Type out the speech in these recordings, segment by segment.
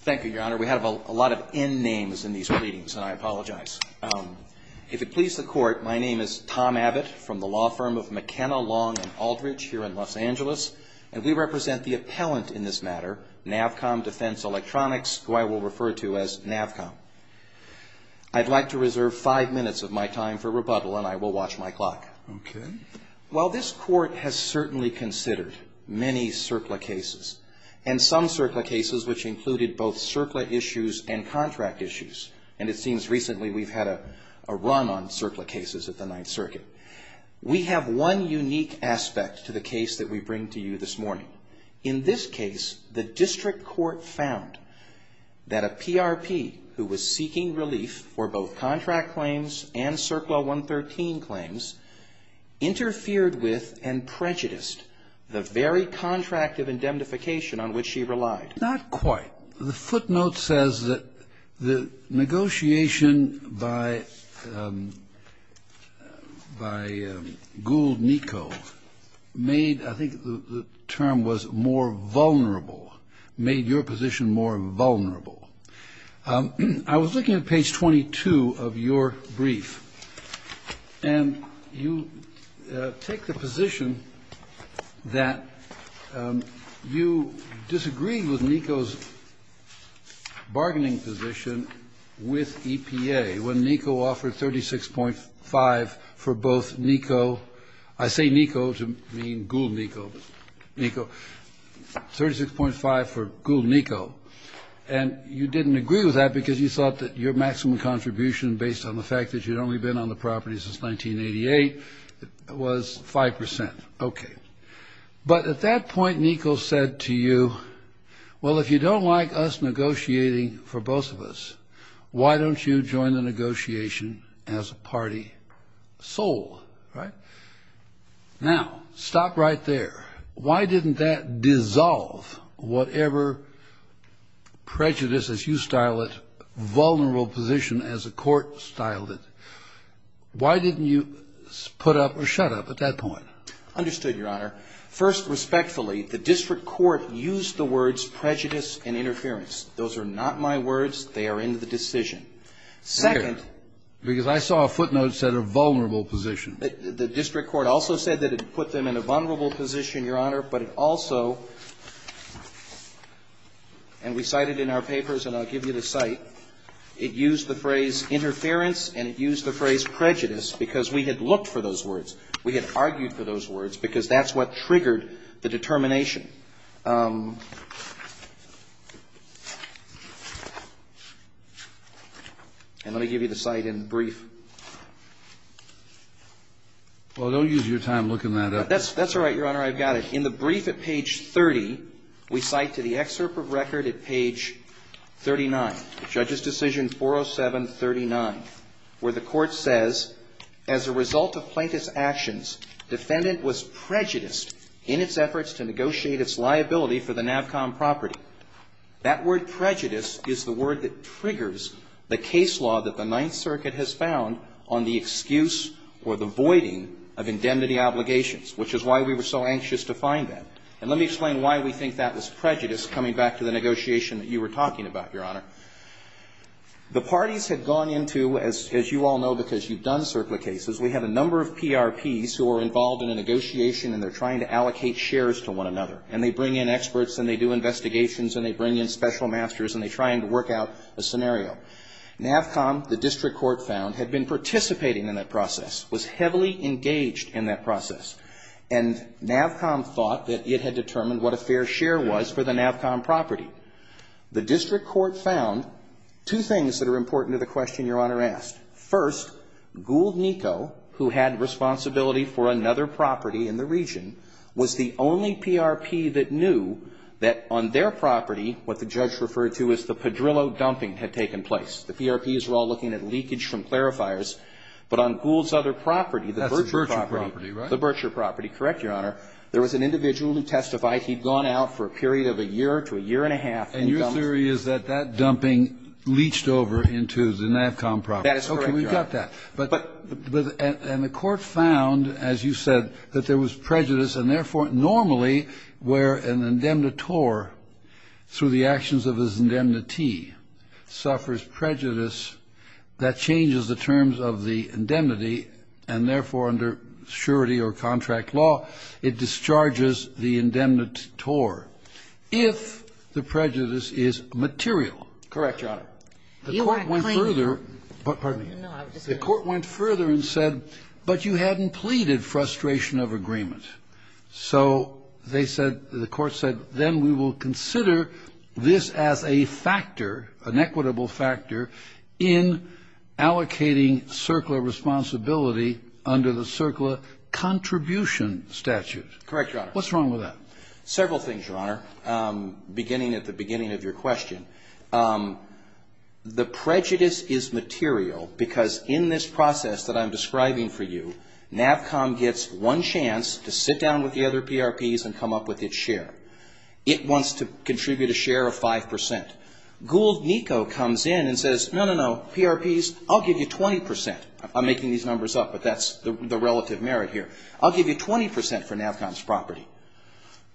Thank you, Your Honor. We have a lot of N names in these pleadings, and I apologize. If it pleases the Court, my name is Tom Abbott from the law firm of McKenna, Long & Aldridge here in Los Angeles, and we represent the appellant in this matter, Navcom Defense Electronics, who I will refer to as Navcom. I'd like to reserve five minutes of my time for rebuttal, and I will watch my clock. Okay. While this Court has certainly considered many CERCLA cases, and some CERCLA cases which included both CERCLA issues and contract issues, and it seems recently we've had a run on CERCLA cases at the Ninth Circuit, we have one unique aspect to the case that we bring to you this morning. In this case, the district court found that a PRP who was seeking relief for both contract claims and CERCLA 113 claims interfered with and prejudiced the very contract of indemnification on which she relied. Not quite. The footnote says that the negotiation by Gould-Nicot made, I think the term was, more vulnerable, made your position more vulnerable. I was looking at page 22 of your brief, and you take the position that you disagreed with Nico's bargaining position with EPA when Nico offered 36.5 for both Nico, I say Nico to mean Gould-Nicot, Nico, 36.5 for Gould-Nicot. And you didn't agree with that because you thought that your maximum contribution, based on the fact that you'd only been on the property since 1988, was 5%. Okay. But at that point, Nico said to you, well, if you don't like us negotiating for both of us, why don't you join the negotiation as a party soul, right? Now, stop right there. Why didn't that dissolve whatever prejudice, as you style it, vulnerable position as a court styled it? Why didn't you put up or shut up at that point? Understood, Your Honor. First, respectfully, the district court used the words prejudice and interference. Those are not my words. They are in the decision. Second — Because I saw a footnote that said a vulnerable position. The district court also said that it put them in a vulnerable position, Your Honor, but it also — and we cite it in our papers, and I'll give you the cite. It used the phrase interference and it used the phrase prejudice because we had looked for those words. We had argued for those words because that's what triggered the determination. And let me give you the cite in brief. Well, don't use your time looking that up. That's all right, Your Honor. I've got it. In the brief at page 30, we cite to the excerpt of record at page 39, Judge's decision 40739, where the court says, As a result of plaintiff's actions, defendant was prejudiced in its efforts to negotiate its liability for the NAVCOM property. That word prejudice is the word that triggers the case law that the Ninth Circuit has found on the excuse or the voiding of indemnity obligations, which is why we were so anxious to find that. And let me explain why we think that was prejudice, coming back to the negotiation that you were talking about, Your Honor. The parties had gone into, as you all know because you've done circuit cases, we have a number of PRPs who are involved in a negotiation and they're trying to allocate shares to one another. And they bring in experts and they do investigations and they bring in special masters and they try and work out a scenario. NAVCOM, the district court found, had been participating in that process, was heavily engaged in that process. And NAVCOM thought that it had determined what a fair share was for the NAVCOM property. The district court found two things that are important to the question Your Honor asked. First, Gould Niko, who had responsibility for another property in the region, was the only PRP that knew that on their property, what the judge referred to as the padrillo dumping had taken place. The PRPs were all looking at leakage from clarifiers. But on Gould's other property, the Bercher property. That's the Bercher property, right? The Bercher property, correct, Your Honor. There was an individual who testified. He'd gone out for a period of a year to a year and a half. And your theory is that that dumping leached over into the NAVCOM property. That is correct, Your Honor. Okay. We've got that. But the court found, as you said, that there was prejudice and, therefore, normally where an indemnitore, through the actions of his indemnity, suffers prejudice, that changes the terms of the indemnity and, therefore, under surety or contract law, it discharges the indemnitore if the prejudice is material. Correct, Your Honor. The court went further. Pardon me. The court went further and said, but you hadn't pleaded frustration of agreement. So they said, the court said, then we will consider this as a factor, an equitable factor in allocating CERCLA responsibility under the CERCLA contribution statute. Correct, Your Honor. What's wrong with that? Several things, Your Honor, beginning at the beginning of your question. The prejudice is material because in this process that I'm describing for you, NAVCOM gets one chance to sit down with the other PRPs and come up with its share. It wants to contribute a share of 5%. Gould-Nicot comes in and says, no, no, no, PRPs, I'll give you 20%. I'm making these numbers up, but that's the relative merit here. I'll give you 20% for NAVCOM's property.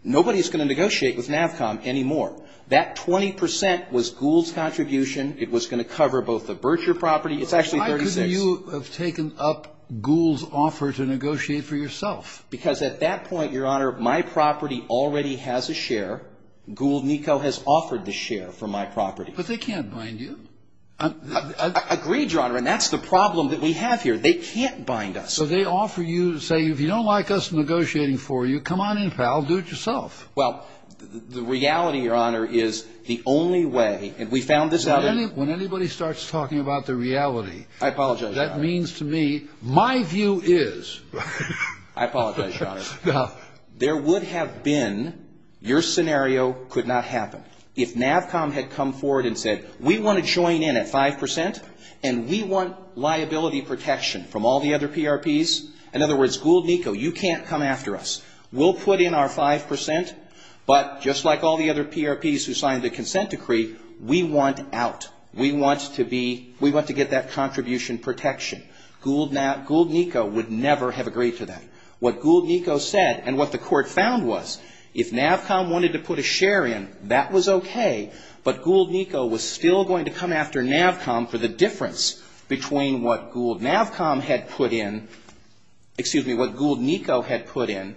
Nobody is going to negotiate with NAVCOM anymore. That 20% was Gould's contribution. It was going to cover both the Bercher property. It's actually 36. Why couldn't you have taken up Gould's offer to negotiate for yourself? Because at that point, Your Honor, my property already has a share. Gould-Nicot has offered the share for my property. But they can't bind you. I agree, Your Honor, and that's the problem that we have here. They can't bind us. So they offer you, say, if you don't like us negotiating for you, come on in, pal, do it yourself. Well, the reality, Your Honor, is the only way, and we found this out in the When anybody starts talking about the reality. I apologize, Your Honor. That means to me my view is. I apologize, Your Honor. There would have been, your scenario could not happen. If NAVCOM had come forward and said, we want to join in at 5% and we want liability protection from all the other PRPs. In other words, Gould-Nicot, you can't come after us. We'll put in our 5%, but just like all the other PRPs who signed the consent decree, we want out. We want to get that contribution protection. Gould-Nicot would never have agreed to that. What Gould-Nicot said and what the court found was, if NAVCOM wanted to put a share in, that was okay. But Gould-Nicot was still going to come after NAVCOM for the difference between what Gould-Nicot had put in and what NAVCOM had put in.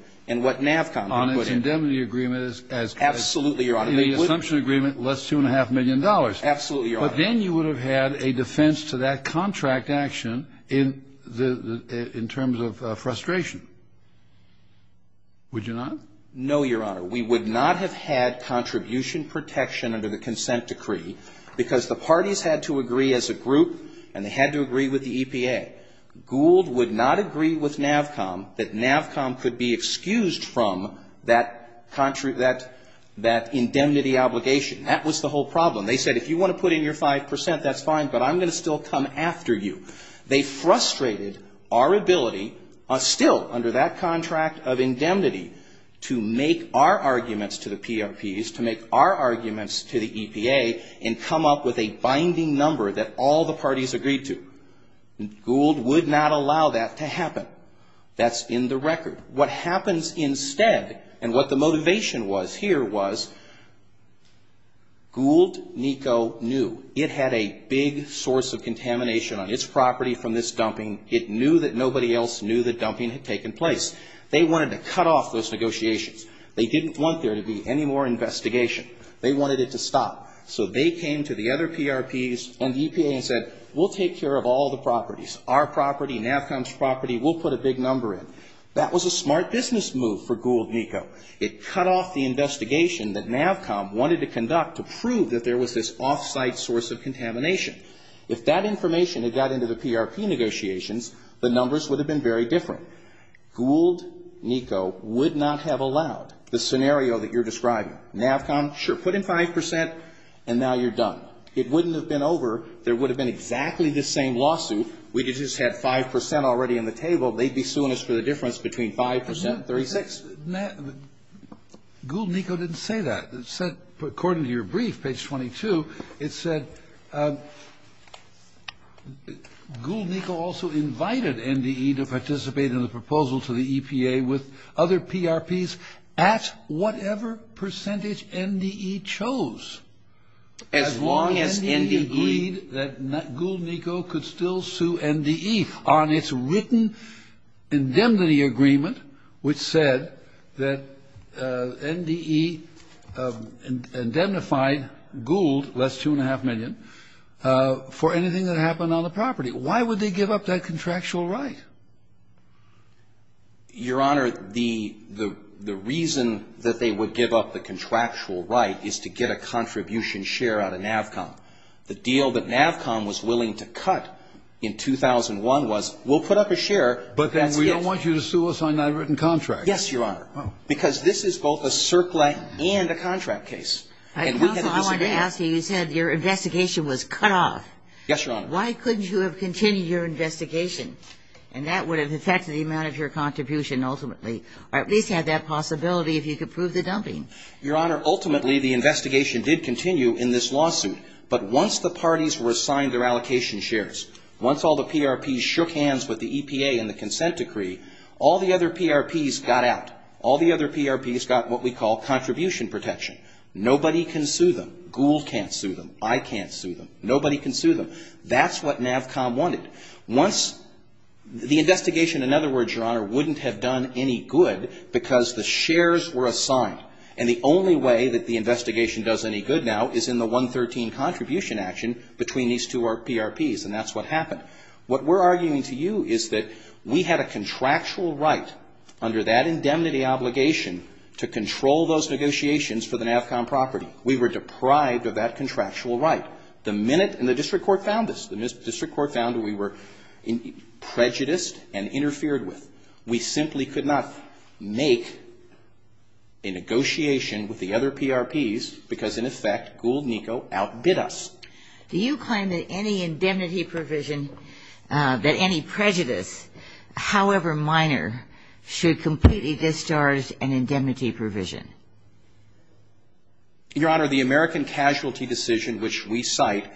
On its indemnity agreement as. Absolutely, Your Honor. In the assumption agreement, less $2.5 million. Absolutely, Your Honor. But then you would have had a defense to that contract action in terms of frustration, would you not? No, Your Honor. We would not have had contribution protection under the consent decree because the parties had to agree as a group and they had to agree with the EPA. Gould would not agree with NAVCOM that NAVCOM could be excused from that indemnity obligation. That was the whole problem. They said if you want to put in your 5 percent, that's fine, but I'm going to still come after you. They frustrated our ability, still under that contract of indemnity, to make our arguments to the PRPs, to make our arguments to the EPA, and come up with a binding number that all the parties agreed to. Gould would not allow that to happen. That's in the record. What happens instead and what the motivation was here was Gould, NICO knew it had a big source of contamination on its property from this dumping. It knew that nobody else knew that dumping had taken place. They wanted to cut off those negotiations. They didn't want there to be any more investigation. They wanted it to stop. So they came to the other PRPs and the EPA and said we'll take care of all the properties. Our property, NAVCOM's property, we'll put a big number in. That was a smart business move for Gould, NICO. It cut off the investigation that NAVCOM wanted to conduct to prove that there was this off-site source of contamination. If that information had got into the PRP negotiations, the numbers would have been very different. Gould, NICO would not have allowed the scenario that you're describing. NAVCOM, sure, put in 5 percent and now you're done. It wouldn't have been over. There would have been exactly the same lawsuit. We just had 5 percent already on the table. They'd be suing us for the difference between 5 percent and 36. Gould, NICO didn't say that. According to your brief, page 22, it said Gould, NICO also invited NDE to participate in the proposal to the EPA with other PRPs at whatever percentage NDE chose. As long as NDE agreed that Gould, NICO could still sue NDE on its written indemnity agreement, which said that NDE indemnified Gould, that's $2.5 million, for anything that happened on the property. Why would they give up that contractual right? Your Honor, the reason that they would give up the contractual right is to get a contribution share out of NAVCOM. The deal that NAVCOM was willing to cut in 2001 was, we'll put up a share, but that's it. But then we don't want you to sue us on that written contract. Yes, Your Honor. Oh. Because this is both a CERCLA and a contract case. And we had a disagreement. Counsel, I wanted to ask you. You said your investigation was cut off. Yes, Your Honor. Why couldn't you have continued your investigation? And that would have affected the amount of your contribution ultimately, or at least had that possibility if you could prove the dumping. Your Honor, ultimately the investigation did continue in this lawsuit. But once the parties were assigned their allocation shares, once all the PRPs shook hands with the EPA and the consent decree, all the other PRPs got out. All the other PRPs got what we call contribution protection. Nobody can sue them. Gould can't sue them. I can't sue them. Nobody can sue them. That's what NAVCOM wanted. Once the investigation, in other words, Your Honor, wouldn't have done any good because the shares were assigned. And the only way that the investigation does any good now is in the 113 contribution action between these two PRPs. And that's what happened. What we're arguing to you is that we had a contractual right under that indemnity obligation to control those negotiations for the NAVCOM property. We were deprived of that contractual right. The minute the district court found us, the district court found we were prejudiced and interfered with, we simply could not make a negotiation with the other PRPs because, in effect, Gould and NICO outbid us. Do you claim that any indemnity provision, that any prejudice, however minor, should completely discharge an indemnity provision? Your Honor, the American casualty decision which we cite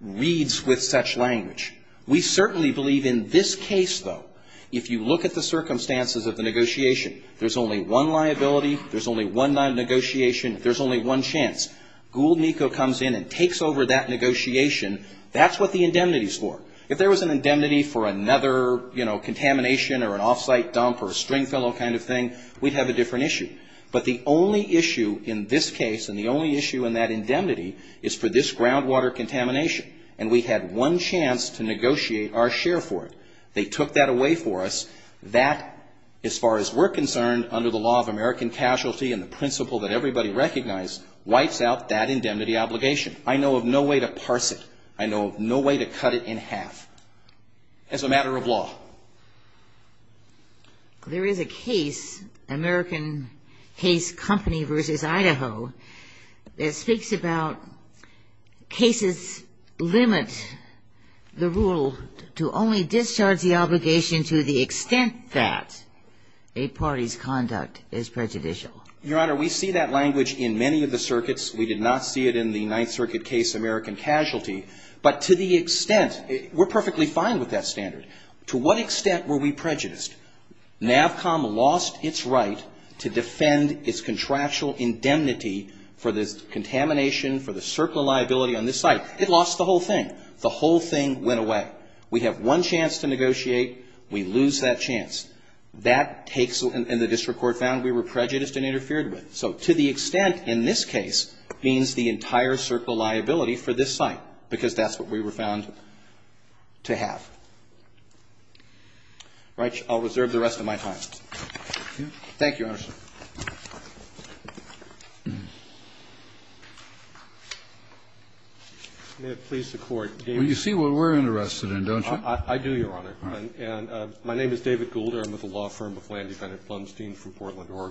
reads with such language. We certainly believe in this case, though, if you look at the circumstances of the negotiation, there's only one liability, there's only one negotiation, there's only one chance. Gould and NICO comes in and takes over that negotiation. That's what the indemnity's for. If there was an indemnity for another, you know, contamination or an off-site dump or a string fellow kind of thing, we'd have a different issue. But the only issue in this case and the only issue in that indemnity is for this groundwater contamination. And we had one chance to negotiate our share for it. They took that away for us. That, as far as we're concerned, under the law of American casualty and the principle that everybody recognized, wipes out that indemnity obligation. I know of no way to parse it. I know of no way to cut it in half as a matter of law. There is a case, American Case Company v. Idaho, that speaks about cases limit the rule to only discharge the obligation to the extent that a party's conduct is prejudicial. Your Honor, we see that language in many of the circuits. We did not see it in the Ninth Circuit case, American Casualty. But to the extent, we're perfectly fine with that standard. To what extent were we prejudiced? NAVCOM lost its right to defend its contractual indemnity for this contamination, for the circle liability on this site. It lost the whole thing. The whole thing went away. We have one chance to negotiate. We lose that chance. That takes, and the district court found we were prejudiced and interfered with. So to the extent in this case means the entire circle liability for this site, because that's what we were found to have. All right. I'll reserve the rest of my time. Thank you, Your Honor. May it please the Court. Well, you see what we're interested in, don't you? I do, Your Honor. And my name is David Goulder.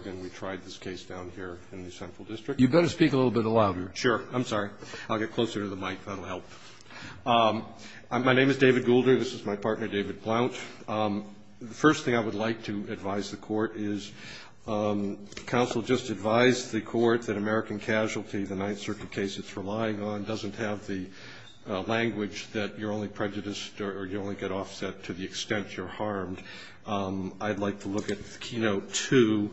And we tried this case down here in the Central District. You'd better speak a little bit louder. Sure. I'm sorry. I'll get closer to the mic. That'll help. My name is David Goulder. This is my partner, David Plount. The first thing I would like to advise the Court is counsel just advised the Court that American Casualty, the Ninth Circuit case it's relying on, doesn't have the language that you're only prejudiced or you only get offset to the extent you're harmed. I'd like to look at Keynote 2.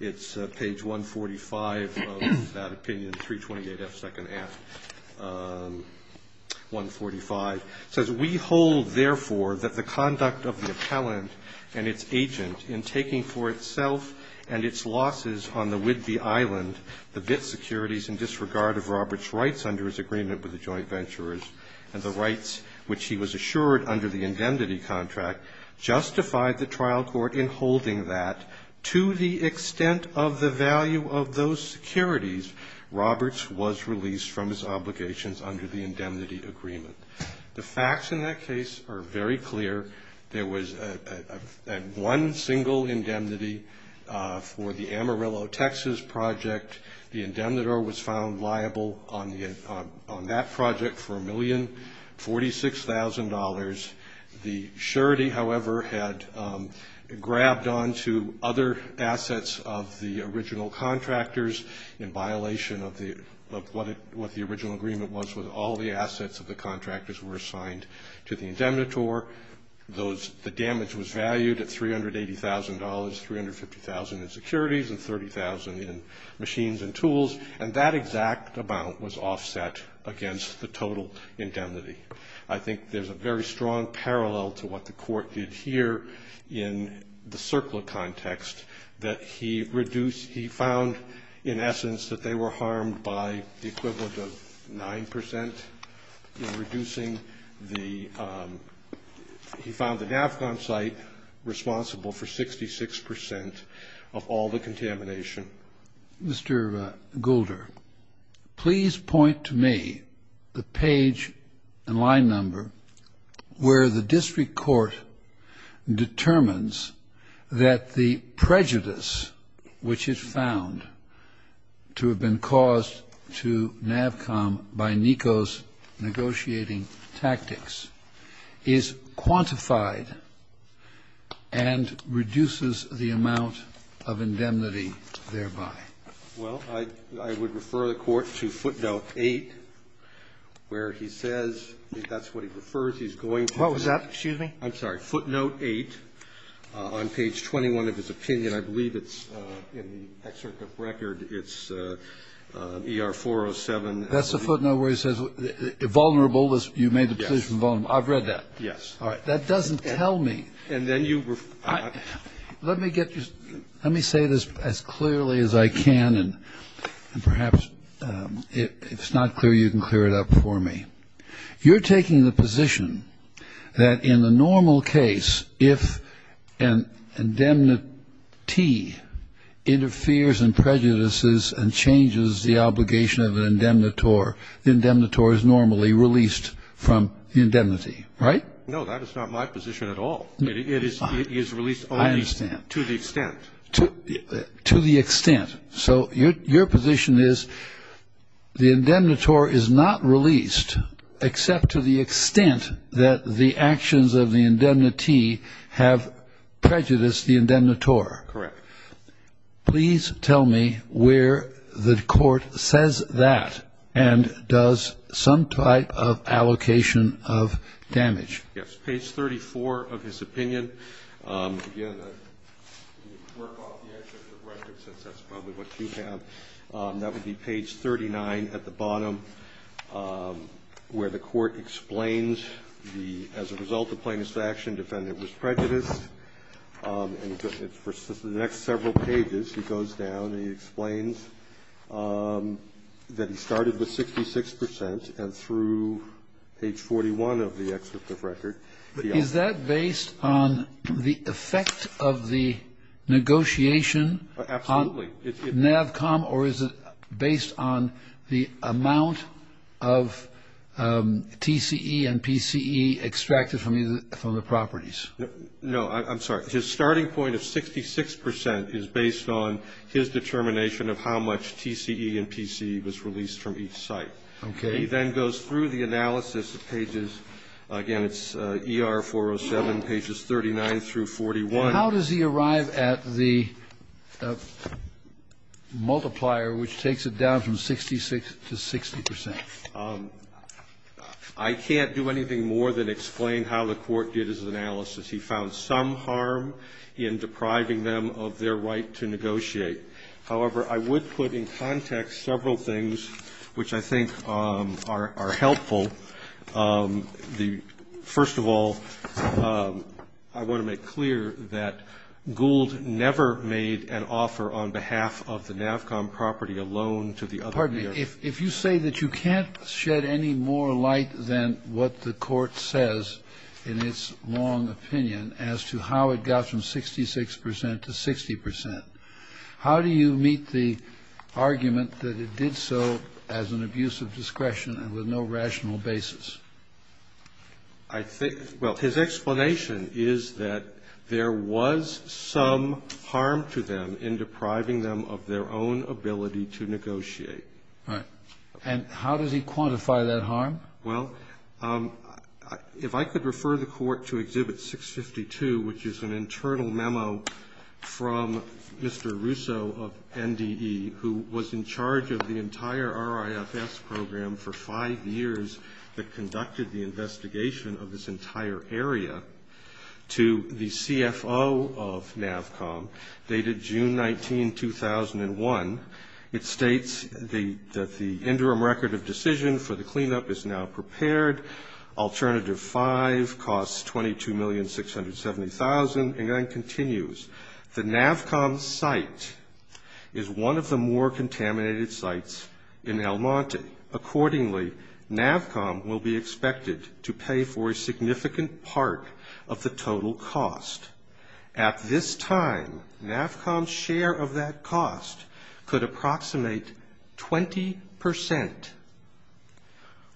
It's page 145 of that opinion, 328F, second half, 145. It says, We hold, therefore, that the conduct of the appellant and its agent in taking for itself and its losses on the Whidbey Island the bit securities in disregard of Robert's rights under his agreement with the joint venturers and the rights which he was assured under the indemnity contract, justified the trial court in holding that, to the extent of the value of those securities, Robert's was released from his obligations under the indemnity agreement. The facts in that case are very clear. There was one single indemnity for the Amarillo, Texas project. The indemnitor was found liable on that project for $1,046,000. The surety, however, had grabbed onto other assets of the original contractors in violation of what the original agreement was with all the assets of the contractors were assigned to the indemnitor. The damage was valued at $380,000, $350,000 in securities and $30,000 in machines and tools, and that exact amount was offset against the total indemnity. I think there's a very strong parallel to what the court did here in the CERCLA context, that he found, in essence, that they were harmed by the equivalent of 9% in reducing the he found the NAFGON site responsible for 66% of all the contamination. Mr. Goulder, please point to me the page and line number where the district court determines that the prejudice which is found to have been caused to NAFCOM by NECO's negotiating tactics is quantified and reduces the amount of indemnity thereby. Well, I would refer the court to footnote 8, where he says, if that's what he refers he's going to. What was that, excuse me? I'm sorry. Footnote 8 on page 21 of his opinion. I believe it's in the excerpt of record. It's ER 407. That's the footnote where he says vulnerable, you made the position vulnerable. Yes. I've read that. Yes. All right. That doesn't tell me. And then you refer. Let me get this. Let me say this as clearly as I can, and perhaps if it's not clear, you can clear it up for me. You're taking the position that in the normal case, if an indemnity interferes and prejudices and changes the obligation of an indemnitor, the indemnitor is normally released from the indemnity, right? No, that is not my position at all. It is released only to the extent. To the extent. So your position is the indemnitor is not released except to the extent that the actions of the indemnity have prejudiced the indemnitor. Correct. Please tell me where the court says that and does some type of allocation of damage. Yes. Page 34 of his opinion. Again, work off the record since that's probably what you have. That would be page 39 at the bottom where the court explains the as a result of plaintiff's action, defendant was prejudiced. And for the next several pages, he goes down and he explains that he started with 66 percent and through page 41 of the excerpt of record. Is that based on the effect of the negotiation? Absolutely. NAVCOM or is it based on the amount of TCE and PCE extracted from the properties? No. I'm sorry. His starting point of 66 percent is based on his determination of how much TCE and PCE was released from each site. Okay. He then goes through the analysis of pages, again, it's ER-407, pages 39 through 41. How does he arrive at the multiplier which takes it down from 66 to 60 percent? I can't do anything more than explain how the court did his analysis. He found some harm in depriving them of their right to negotiate. However, I would put in context several things which I think are helpful. First of all, I want to make clear that Gould never made an offer on behalf of the NAVCOM property alone to the other. Pardon me. If you say that you can't shed any more light than what the court says in its long opinion as to how it got from 66 percent to 60 percent, how do you meet the argument that it did so as an abuse of discretion and with no rational basis? I think, well, his explanation is that there was some harm to them in depriving them of their own ability to negotiate. Right. Well, if I could refer the court to Exhibit 652, which is an internal memo from Mr. Russo of NDE, who was in charge of the entire RIFS program for five years that conducted the investigation of this entire area, to the CFO of NAVCOM dated June 19, 2001. It states that the interim record of decision for the cleanup is now prepared. Alternative 5 costs $22,670,000. And then it continues. The NAVCOM site is one of the more contaminated sites in El Monte. Accordingly, NAVCOM will be expected to pay for a significant part of the total cost. At this time, NAVCOM's share of that cost could approximate 20 percent,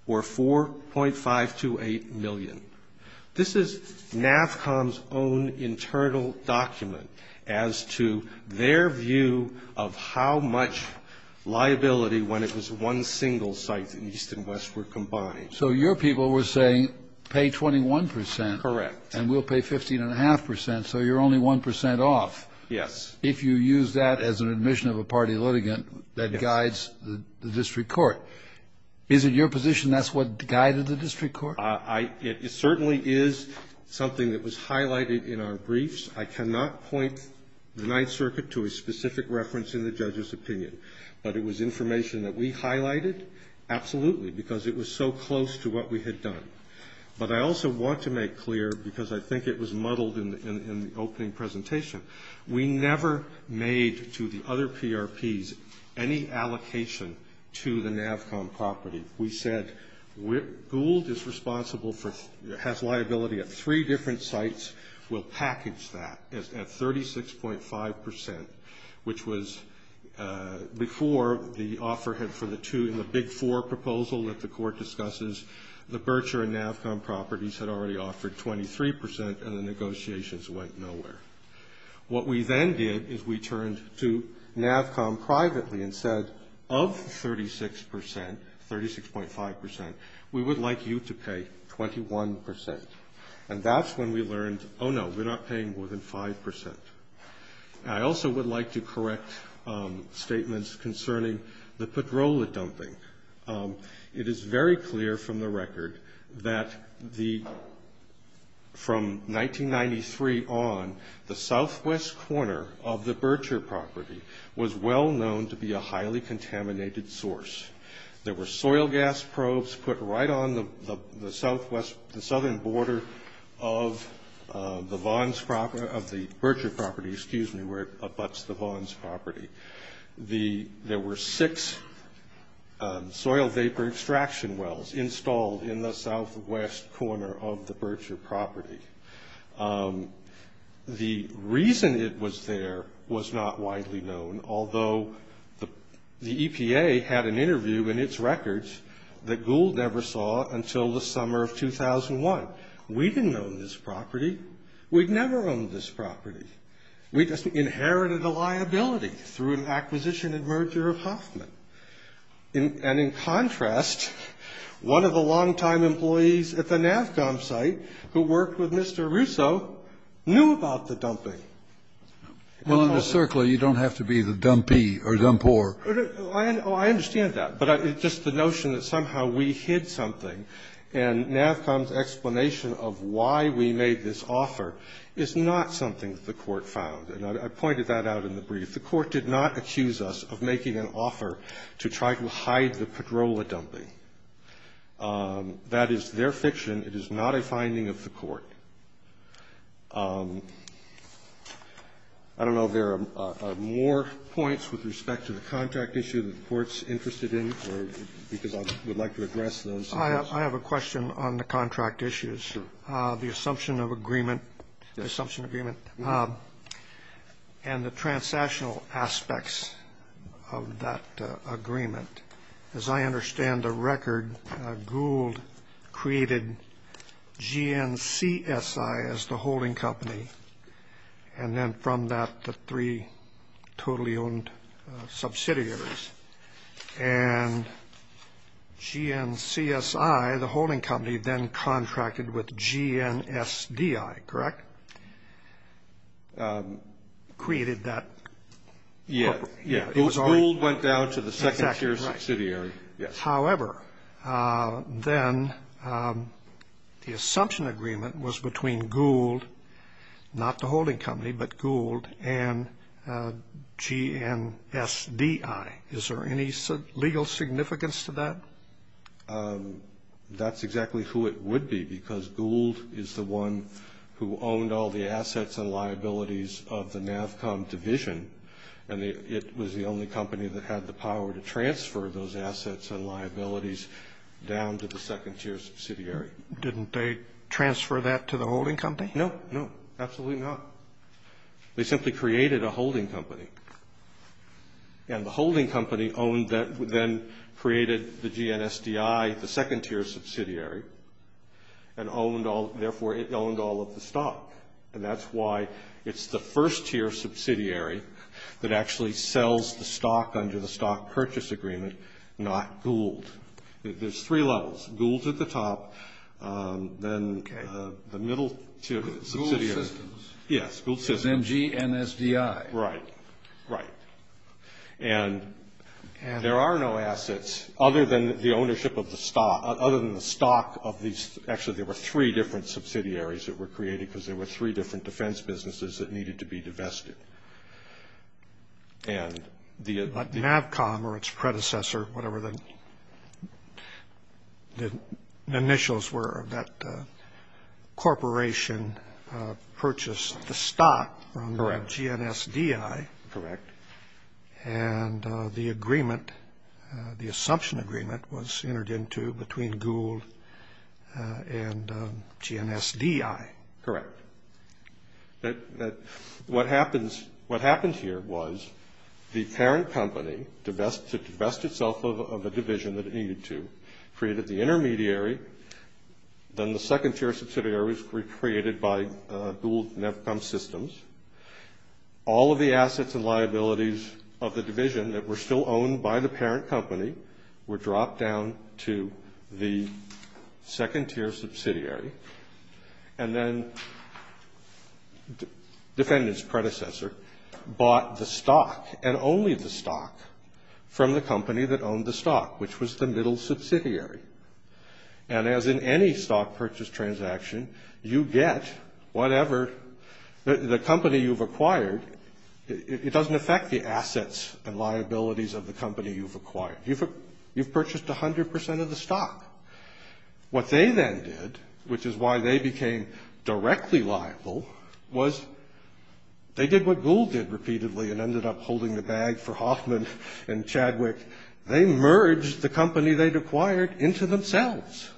or 4.528 million. This is NAVCOM's own internal document as to their view of how much liability, when it was one single site in East and West, were combined. So your people were saying pay 21 percent. Correct. And we'll pay 15.5 percent, so you're only 1 percent off. Yes. If you use that as an admission of a party litigant that guides the district court. Is it your position that's what guided the district court? It certainly is something that was highlighted in our briefs. I cannot point the Ninth Circuit to a specific reference in the judge's opinion. But it was information that we highlighted, absolutely, because it was so close to what we had done. But I also want to make clear, because I think it was muddled in the opening presentation, we never made to the other PRPs any allocation to the NAVCOM property. We said Gould is responsible for, has liability at three different sites. We'll package that at 36.5 percent, which was before the offer had for the two, the big four proposal that the court discusses. The Bercher and NAVCOM properties had already offered 23 percent, and the negotiations went nowhere. What we then did is we turned to NAVCOM privately and said, of 36 percent, 36.5 percent, we would like you to pay 21 percent. And that's when we learned, oh, no, we're not paying more than 5 percent. I also would like to correct statements concerning the padrola dumping. It is very clear from the record that the, from 1993 on, the southwest corner of the Bercher property was well known to be a highly contaminated source. There were soil gas probes put right on the southwest, the southern border of the Vaughn's property, of the Bercher property, excuse me, where it abuts the Vaughn's property. There were six soil vapor extraction wells installed in the southwest corner of the Bercher property. The reason it was there was not widely known, although the EPA had an interview in its records that Gould never saw until the summer of 2001. We didn't own this property. We'd never owned this property. We just inherited a liability through an acquisition and merger of Hoffman. And in contrast, one of the long-time employees at the NAVCOM site who worked with Mr. Russo knew about the dumping. Kennedy. Well, in the circle, you don't have to be the dumpee or dumpore. Oh, I understand that. But it's just the notion that somehow we hid something, and NAVCOM's explanation of why we made this offer is not something that the Court found. And I pointed that out in the brief. The Court did not accuse us of making an offer to try to hide the Padrola dumping. That is their fiction. It is not a finding of the Court. I don't know if there are more points with respect to the contract issue that the Court's interested in or because I would like to address those. I have a question on the contract issues. Sure. The assumption of agreement and the transactional aspects of that agreement. As I understand the record, Gould created GNCSI as the holding company, and then from that the three totally owned subsidiaries. And GNCSI, the holding company, then contracted with GNSDI, correct? Created that. Yeah. Gould went down to the second tier subsidiary. However, then the assumption agreement was between Gould, not the holding company, but Gould and GNSDI. Is there any legal significance to that? That's exactly who it would be because Gould is the one who owned all the assets and liabilities of the NAVCOM division, and it was the only company that had the power to transfer those assets and liabilities down to the second tier subsidiary. Didn't they transfer that to the holding company? No. No. Absolutely not. They simply created a holding company. And the holding company owned that, then created the GNSDI, the second tier subsidiary, and owned all of the stock. And that's why it's the first tier subsidiary that actually sells the stock under the stock purchase agreement, not Gould. There's three levels, Gould at the top, then the middle tier subsidiary. Gould Systems. Yes, Gould Systems. Because MG and SDI. Right. Right. And there are no assets other than the ownership of the stock, other than the stock of these. Actually, there were three different subsidiaries that were created because there were three different defense businesses that needed to be divested. But NAVCOM or its predecessor, whatever the initials were, that corporation purchased the stock from the GNSDI. Correct. And the assumption agreement was entered into between Gould and GNSDI. Correct. What happened here was the parent company divested itself of a division that it needed to, created the intermediary, then the second tier subsidiaries were created by Gould and NAVCOM Systems. All of the assets and liabilities of the division that were still owned by the parent company were dropped down to the second tier subsidiary. And then the defendant's predecessor bought the stock and only the stock from the company that owned the stock, which was the middle subsidiary. And as in any stock purchase transaction, you get whatever, the company you've acquired, it doesn't affect the assets and liabilities of the company you've acquired. You've purchased 100 percent of the stock. What they then did, which is why they became directly liable, was they did what Gould did repeatedly and ended up holding the bag for Hoffman and Chadwick. They merged the company they'd acquired into themselves.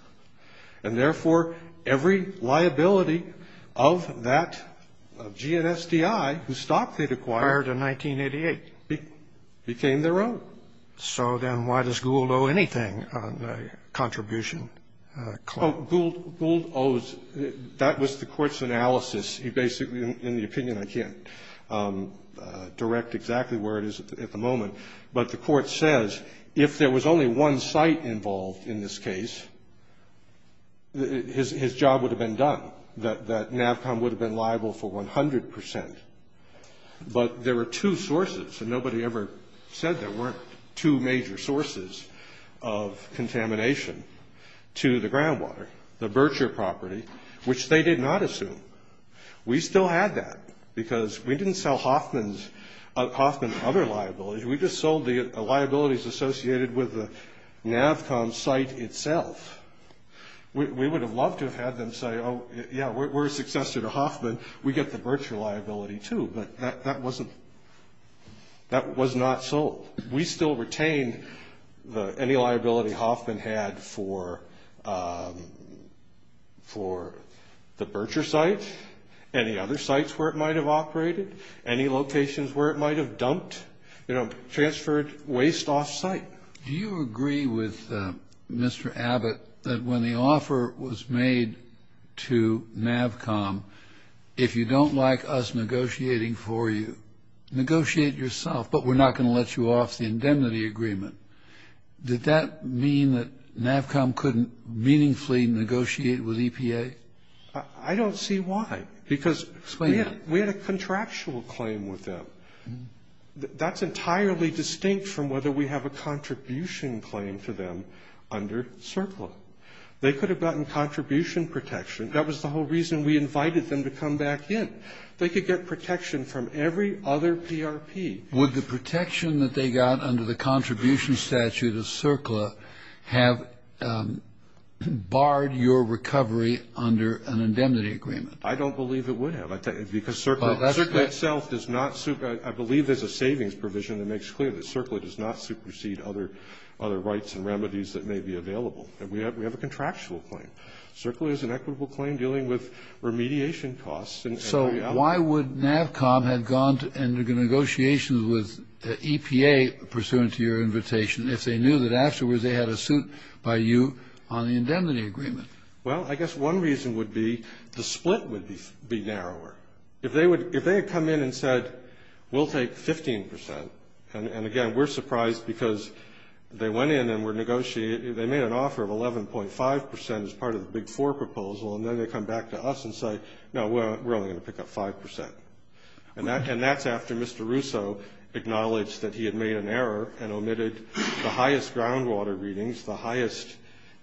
And therefore, every liability of that GNSDI, whose stock they'd acquired in 1988, became their own. So then why does Gould owe anything on the contribution claim? Gould owes. That was the court's analysis. Basically, in the opinion, I can't direct exactly where it is at the moment. But the court says if there was only one site involved in this case, his job would have been done, that NAVCOM would have been liable for 100 percent. But there were two sources, and nobody ever said there weren't two major sources of contamination to the groundwater, the Bercher property, which they did not assume. We still had that because we didn't sell Hoffman's other liabilities. We just sold the liabilities associated with the NAVCOM site itself. We would have loved to have had them say, oh, yeah, we're a successor to Hoffman. We get the Bercher liability, too. But that wasn't – that was not sold. We still retain any liability Hoffman had for the Bercher site, any other sites where it might have operated, any locations where it might have dumped, you know, transferred waste offsite. Do you agree with Mr. Abbott that when the offer was made to NAVCOM, if you don't like us negotiating for you, negotiate yourself, but we're not going to let you off the indemnity agreement, did that mean that NAVCOM couldn't meaningfully negotiate with EPA? I don't see why. Explain that. We had a contractual claim with them. That's entirely distinct from whether we have a contribution claim to them under CERCLA. They could have gotten contribution protection. That was the whole reason we invited them to come back in. They could get protection from every other PRP. Would the protection that they got under the contribution statute of CERCLA have barred your recovery under an indemnity agreement? I don't believe it would have. Because CERCLA itself does not – I believe there's a savings provision that makes clear that CERCLA does not supersede other rights and remedies that may be available. We have a contractual claim. CERCLA is an equitable claim dealing with remediation costs. So why would NAVCOM have gone into negotiations with EPA pursuant to your invitation if they knew that afterwards they had a suit by you on the indemnity agreement? Well, I guess one reason would be the split would be narrower. If they had come in and said, we'll take 15% – and, again, we're surprised because they went in and were negotiating – they made an offer of 11.5% as part of the Big Four proposal, and then they come back to us and say, no, we're only going to pick up 5%. And that's after Mr. Russo acknowledged that he had made an error and omitted the highest groundwater readings, the highest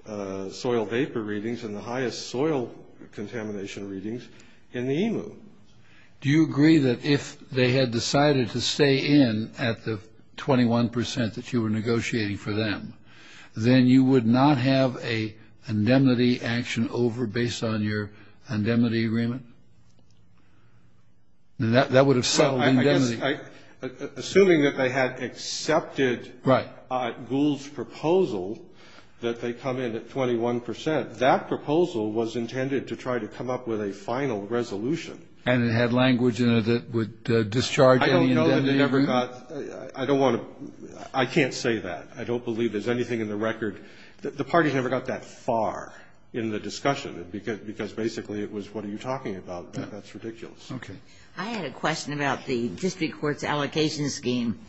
soil vapor readings, and the highest soil contamination readings in the EMU. Do you agree that if they had decided to stay in at the 21% that you were negotiating for them, then you would not have an indemnity action over based on your indemnity agreement? That would have settled indemnity. Assuming that they had accepted Gould's proposal that they come in at 21%, that proposal was intended to try to come up with a final resolution. And it had language in it that would discharge any indemnity agreement? I don't know that it ever got – I don't want to – I can't say that. I don't believe there's anything in the record. The parties never got that far in the discussion, because basically it was, what are you talking about? That's ridiculous. Okay. I had a question about the district court's allocation scheme.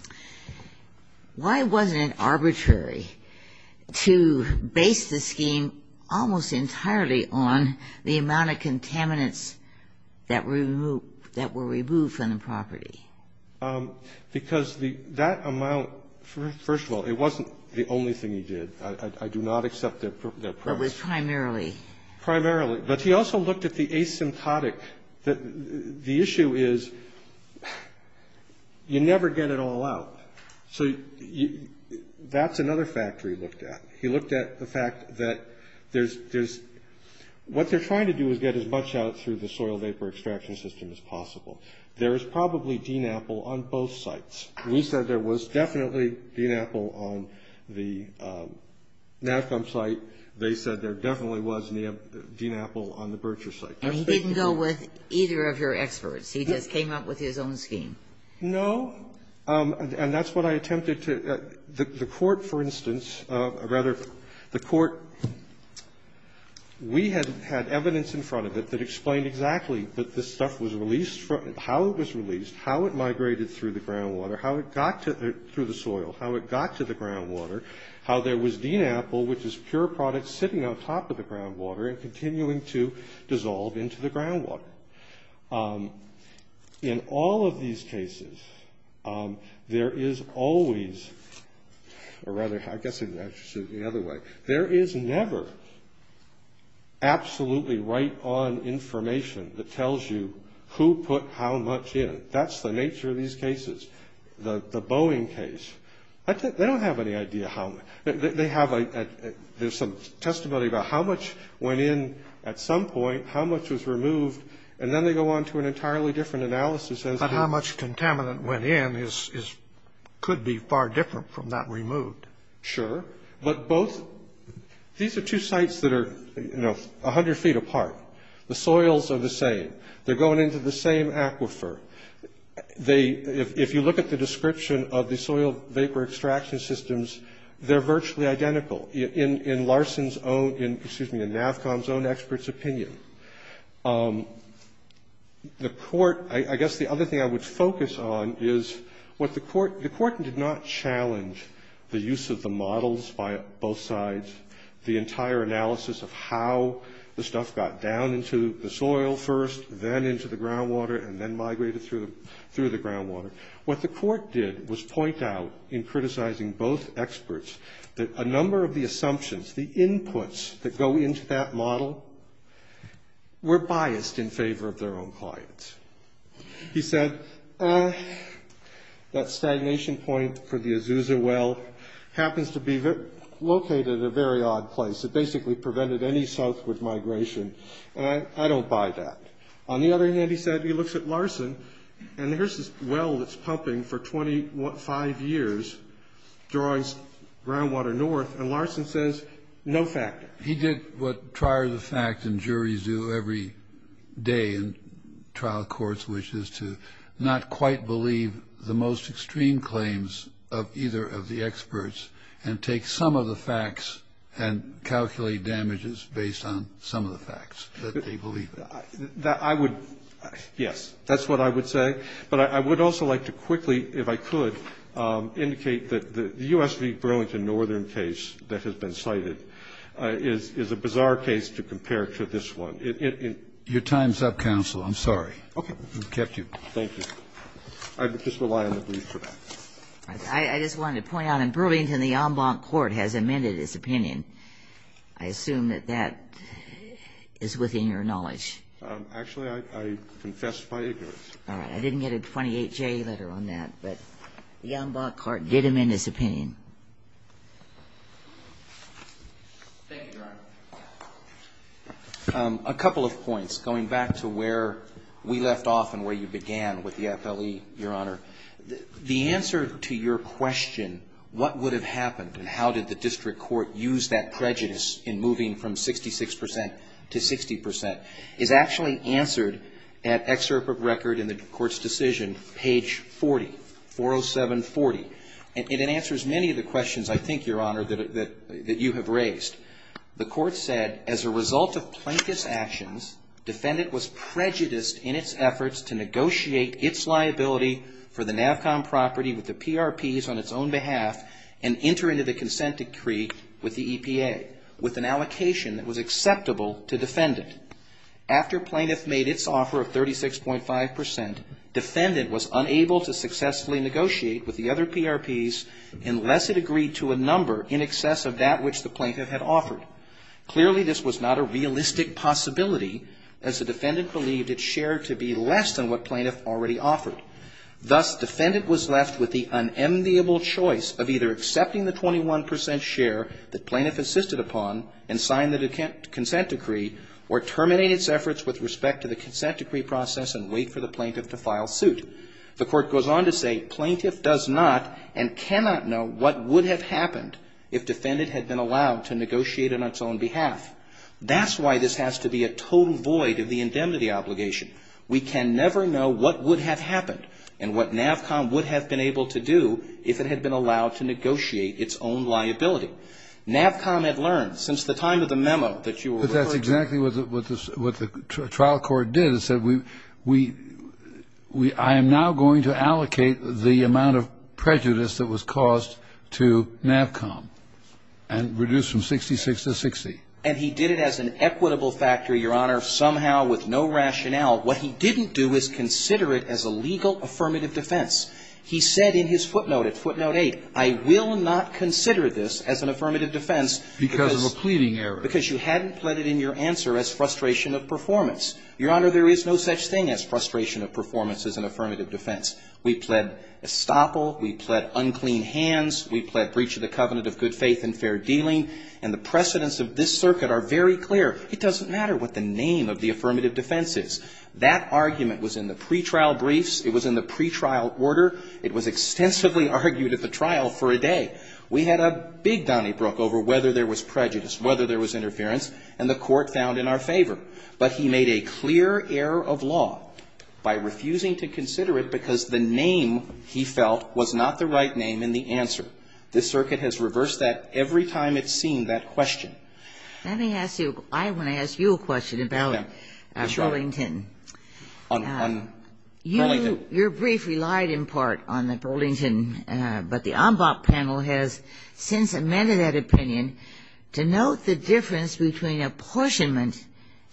Why wasn't it arbitrary to base the scheme almost entirely on the amount of contaminants that were removed from the property? Because that amount, first of all, it wasn't the only thing he did. I do not accept their premise. It was primarily. Primarily. But he also looked at the asymptotic. The issue is you never get it all out. So that's another factor he looked at. He looked at the fact that there's – what they're trying to do is get as much out through the soil vapor extraction system as possible. There is probably DNAPL on both sites. We said there was definitely DNAPL on the NAVCOM site. They said there definitely was DNAPL on the Bercher site. And he didn't go with either of your experts. He just came up with his own scheme. No. And that's what I attempted to – the court, for instance, or rather the court – we had evidence in front of it that explained exactly that this stuff was released – how it was released, how it migrated through the groundwater, how it got to the groundwater, how there was DNAPL, which is pure product, sitting on top of the groundwater and continuing to dissolve into the groundwater. In all of these cases, there is always – or rather, I guess I should say it the other way. There is never absolutely right on information that tells you who put how much in. That's the nature of these cases. The Boeing case, they don't have any idea how much. They have – there's some testimony about how much went in at some point, how much was removed, and then they go on to an entirely different analysis. But how much contaminant went in could be far different from that removed. Sure. But both – these are two sites that are, you know, 100 feet apart. The soils are the same. They're going into the same aquifer. They – if you look at the description of the soil vapor extraction systems, they're virtually identical in Larsen's own – excuse me, in NAVCOM's own experts' opinion. The court – I guess the other thing I would focus on is what the court – the court did not challenge the use of the models by both sides, the entire analysis of how the stuff got down into the soil first, then into the groundwater, and then migrated through the groundwater. What the court did was point out, in criticizing both experts, that a number of the assumptions, the inputs that go into that model, were biased in favor of their own clients. He said, that stagnation point for the Azusa well happens to be located at a very odd place. It basically prevented any southward migration, and I don't buy that. On the other hand, he said – he looks at Larsen, and here's this well that's pumping for 25 years, drawing groundwater north, and Larsen says, no factor. He did what trier-of-the-fact and juries do every day in trial courts, which is to not quite believe the most extreme claims of either of the experts, and take some of the facts and calculate damages based on some of the facts that they believe. I would – yes, that's what I would say. But I would also like to quickly, if I could, indicate that the U.S. v. Burlington Northern case that has been cited is a bizarre case to compare to this one. Your time's up, counsel. I'm sorry. Okay. I've kept you. Thank you. I just rely on the brief for that. I just wanted to point out, in Burlington, the en banc court has amended its opinion. I assume that that is within your knowledge. Actually, I confess my ignorance. All right. I didn't get a 28-J letter on that, but the en banc court did amend its opinion. Thank you, Your Honor. A couple of points, going back to where we left off and where you began with the FLE, Your Honor. The answer to your question, what would have happened and how did the district court use that prejudice in moving from 66 percent to 60 percent, is actually answered at excerpt of record in the court's decision, page 40, 407.40. And it answers many of the questions, I think, Your Honor, that you have raised. The court said, as a result of plaintiff's actions, defendant was prejudiced in its efforts to negotiate its liability for the NAVCOM property with the PRPs on its own behalf and enter into the consent decree with the EPA, with an allocation that was acceptable to defendant. After plaintiff made its offer of 36.5 percent, defendant was unable to successfully negotiate with the other PRPs unless it agreed to a number in excess of that which the plaintiff had offered. Clearly, this was not a realistic possibility as the defendant believed its share to be less than what plaintiff already offered. Thus, defendant was left with the unenviable choice of either accepting the 21 percent share that plaintiff insisted upon and sign the consent decree or terminate its efforts with respect to the consent decree process and wait for the plaintiff to file suit. The court goes on to say, plaintiff does not and cannot know what would have happened if defendant had been allowed to negotiate on its own behalf. That's why this has to be a total void of the indemnity obligation. We can never know what would have happened and what NAVCOM would have been able to do if it had been allowed to negotiate its own liability. NAVCOM had learned since the time of the memo that you were referring to. But that's exactly what the trial court did. It said, I am now going to allocate the amount of prejudice that was caused to NAVCOM and reduce from 66 to 60. And he did it as an equitable factor, Your Honor, somehow with no rationale. What he didn't do is consider it as a legal affirmative defense. He said in his footnote at footnote 8, I will not consider this as an affirmative defense because you hadn't put it in your answer as frustration of performance. Your Honor, there is no such thing as frustration of performance as an affirmative defense. We pled estoppel. We pled unclean hands. We pled breach of the covenant of good faith and fair dealing. And the precedents of this circuit are very clear. It doesn't matter what the name of the affirmative defense is. That argument was in the pretrial briefs. It was in the pretrial order. It was extensively argued at the trial for a day. We had a big donnybrook over whether there was prejudice, whether there was interference, and the court found in our favor. But he made a clear error of law by refusing to consider it because the name, he felt, was not the right name in the answer. This circuit has reversed that every time it's seen that question. Ginsburg. Let me ask you, I want to ask you a question about Burlington. On Burlington. Your brief relied in part on Burlington. But the Ombop panel has since amended that opinion to note the difference between apportionment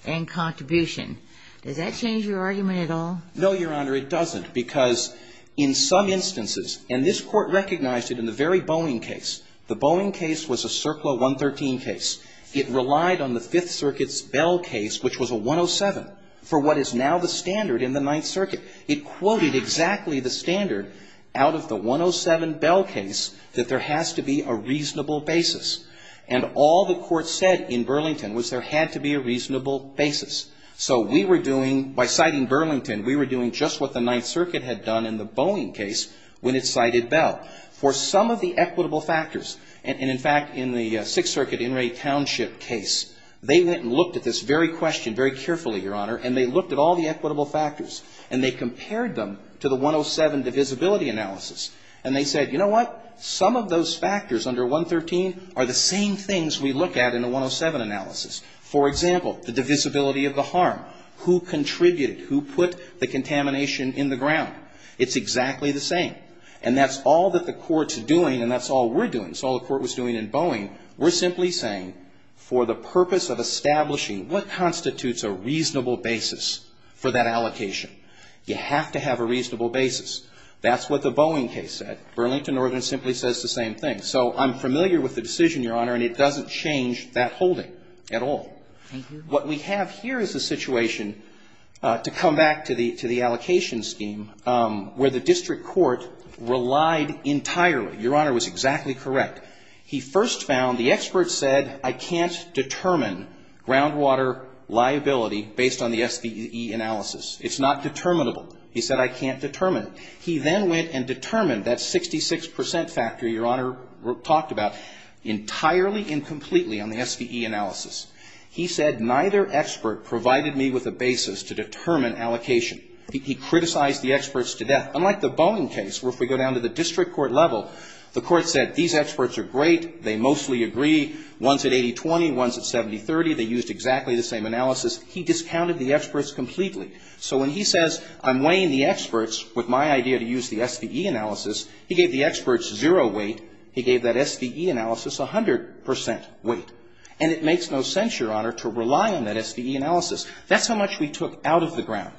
and contribution. Does that change your argument at all? No, Your Honor. It doesn't. Because in some instances, and this Court recognized it in the very Boeing case, the Boeing case was a CERCLA 113 case. It relied on the Fifth Circuit's Bell case, which was a 107, for what is now the standard in the Ninth Circuit. It quoted exactly the standard out of the 107 Bell case that there has to be a reasonable basis. And all the Court said in Burlington was there had to be a reasonable basis. So we were doing, by citing Burlington, we were doing just what the Ninth Circuit had done in the Boeing case when it cited Bell. For some of the equitable factors, and in fact, in the Sixth Circuit In re Township case, they went and looked at this very question very carefully, Your Honor, and they compared them to the 107 divisibility analysis. And they said, you know what? Some of those factors under 113 are the same things we look at in the 107 analysis. For example, the divisibility of the harm. Who contributed? Who put the contamination in the ground? It's exactly the same. And that's all that the Court's doing, and that's all we're doing. That's all the Court was doing in Boeing. We're simply saying for the purpose of establishing what constitutes a reasonable basis for that allocation. You have to have a reasonable basis. That's what the Boeing case said. Burlington ordinance simply says the same thing. So I'm familiar with the decision, Your Honor, and it doesn't change that holding at all. What we have here is a situation, to come back to the allocation scheme, where the district court relied entirely. Your Honor was exactly correct. He first found, the experts said, I can't determine groundwater liability based on the SVE analysis. It's not determinable. He said, I can't determine it. He then went and determined that 66 percent factor Your Honor talked about entirely and completely on the SVE analysis. He said, neither expert provided me with a basis to determine allocation. He criticized the experts to death. Unlike the Boeing case, where if we go down to the district court level, the court said, these experts are great. They mostly agree. One's at 80-20. One's at 70-30. They used exactly the same analysis. He discounted the experts completely. So when he says, I'm weighing the experts with my idea to use the SVE analysis, he gave the experts zero weight. He gave that SVE analysis 100 percent weight. And it makes no sense, Your Honor, to rely on that SVE analysis. That's how much we took out of the ground.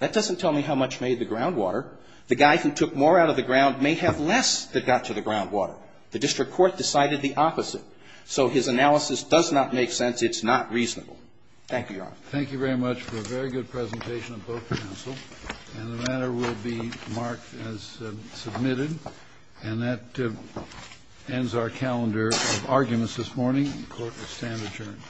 That doesn't tell me how much made the groundwater. The guy who took more out of the ground may have less that got to the groundwater. The district court decided the opposite. It's not reasonable. Thank you, Your Honor. Thank you very much for a very good presentation of both counsel. And the matter will be marked as submitted. And that ends our calendar of arguments this morning. The court will stand adjourned.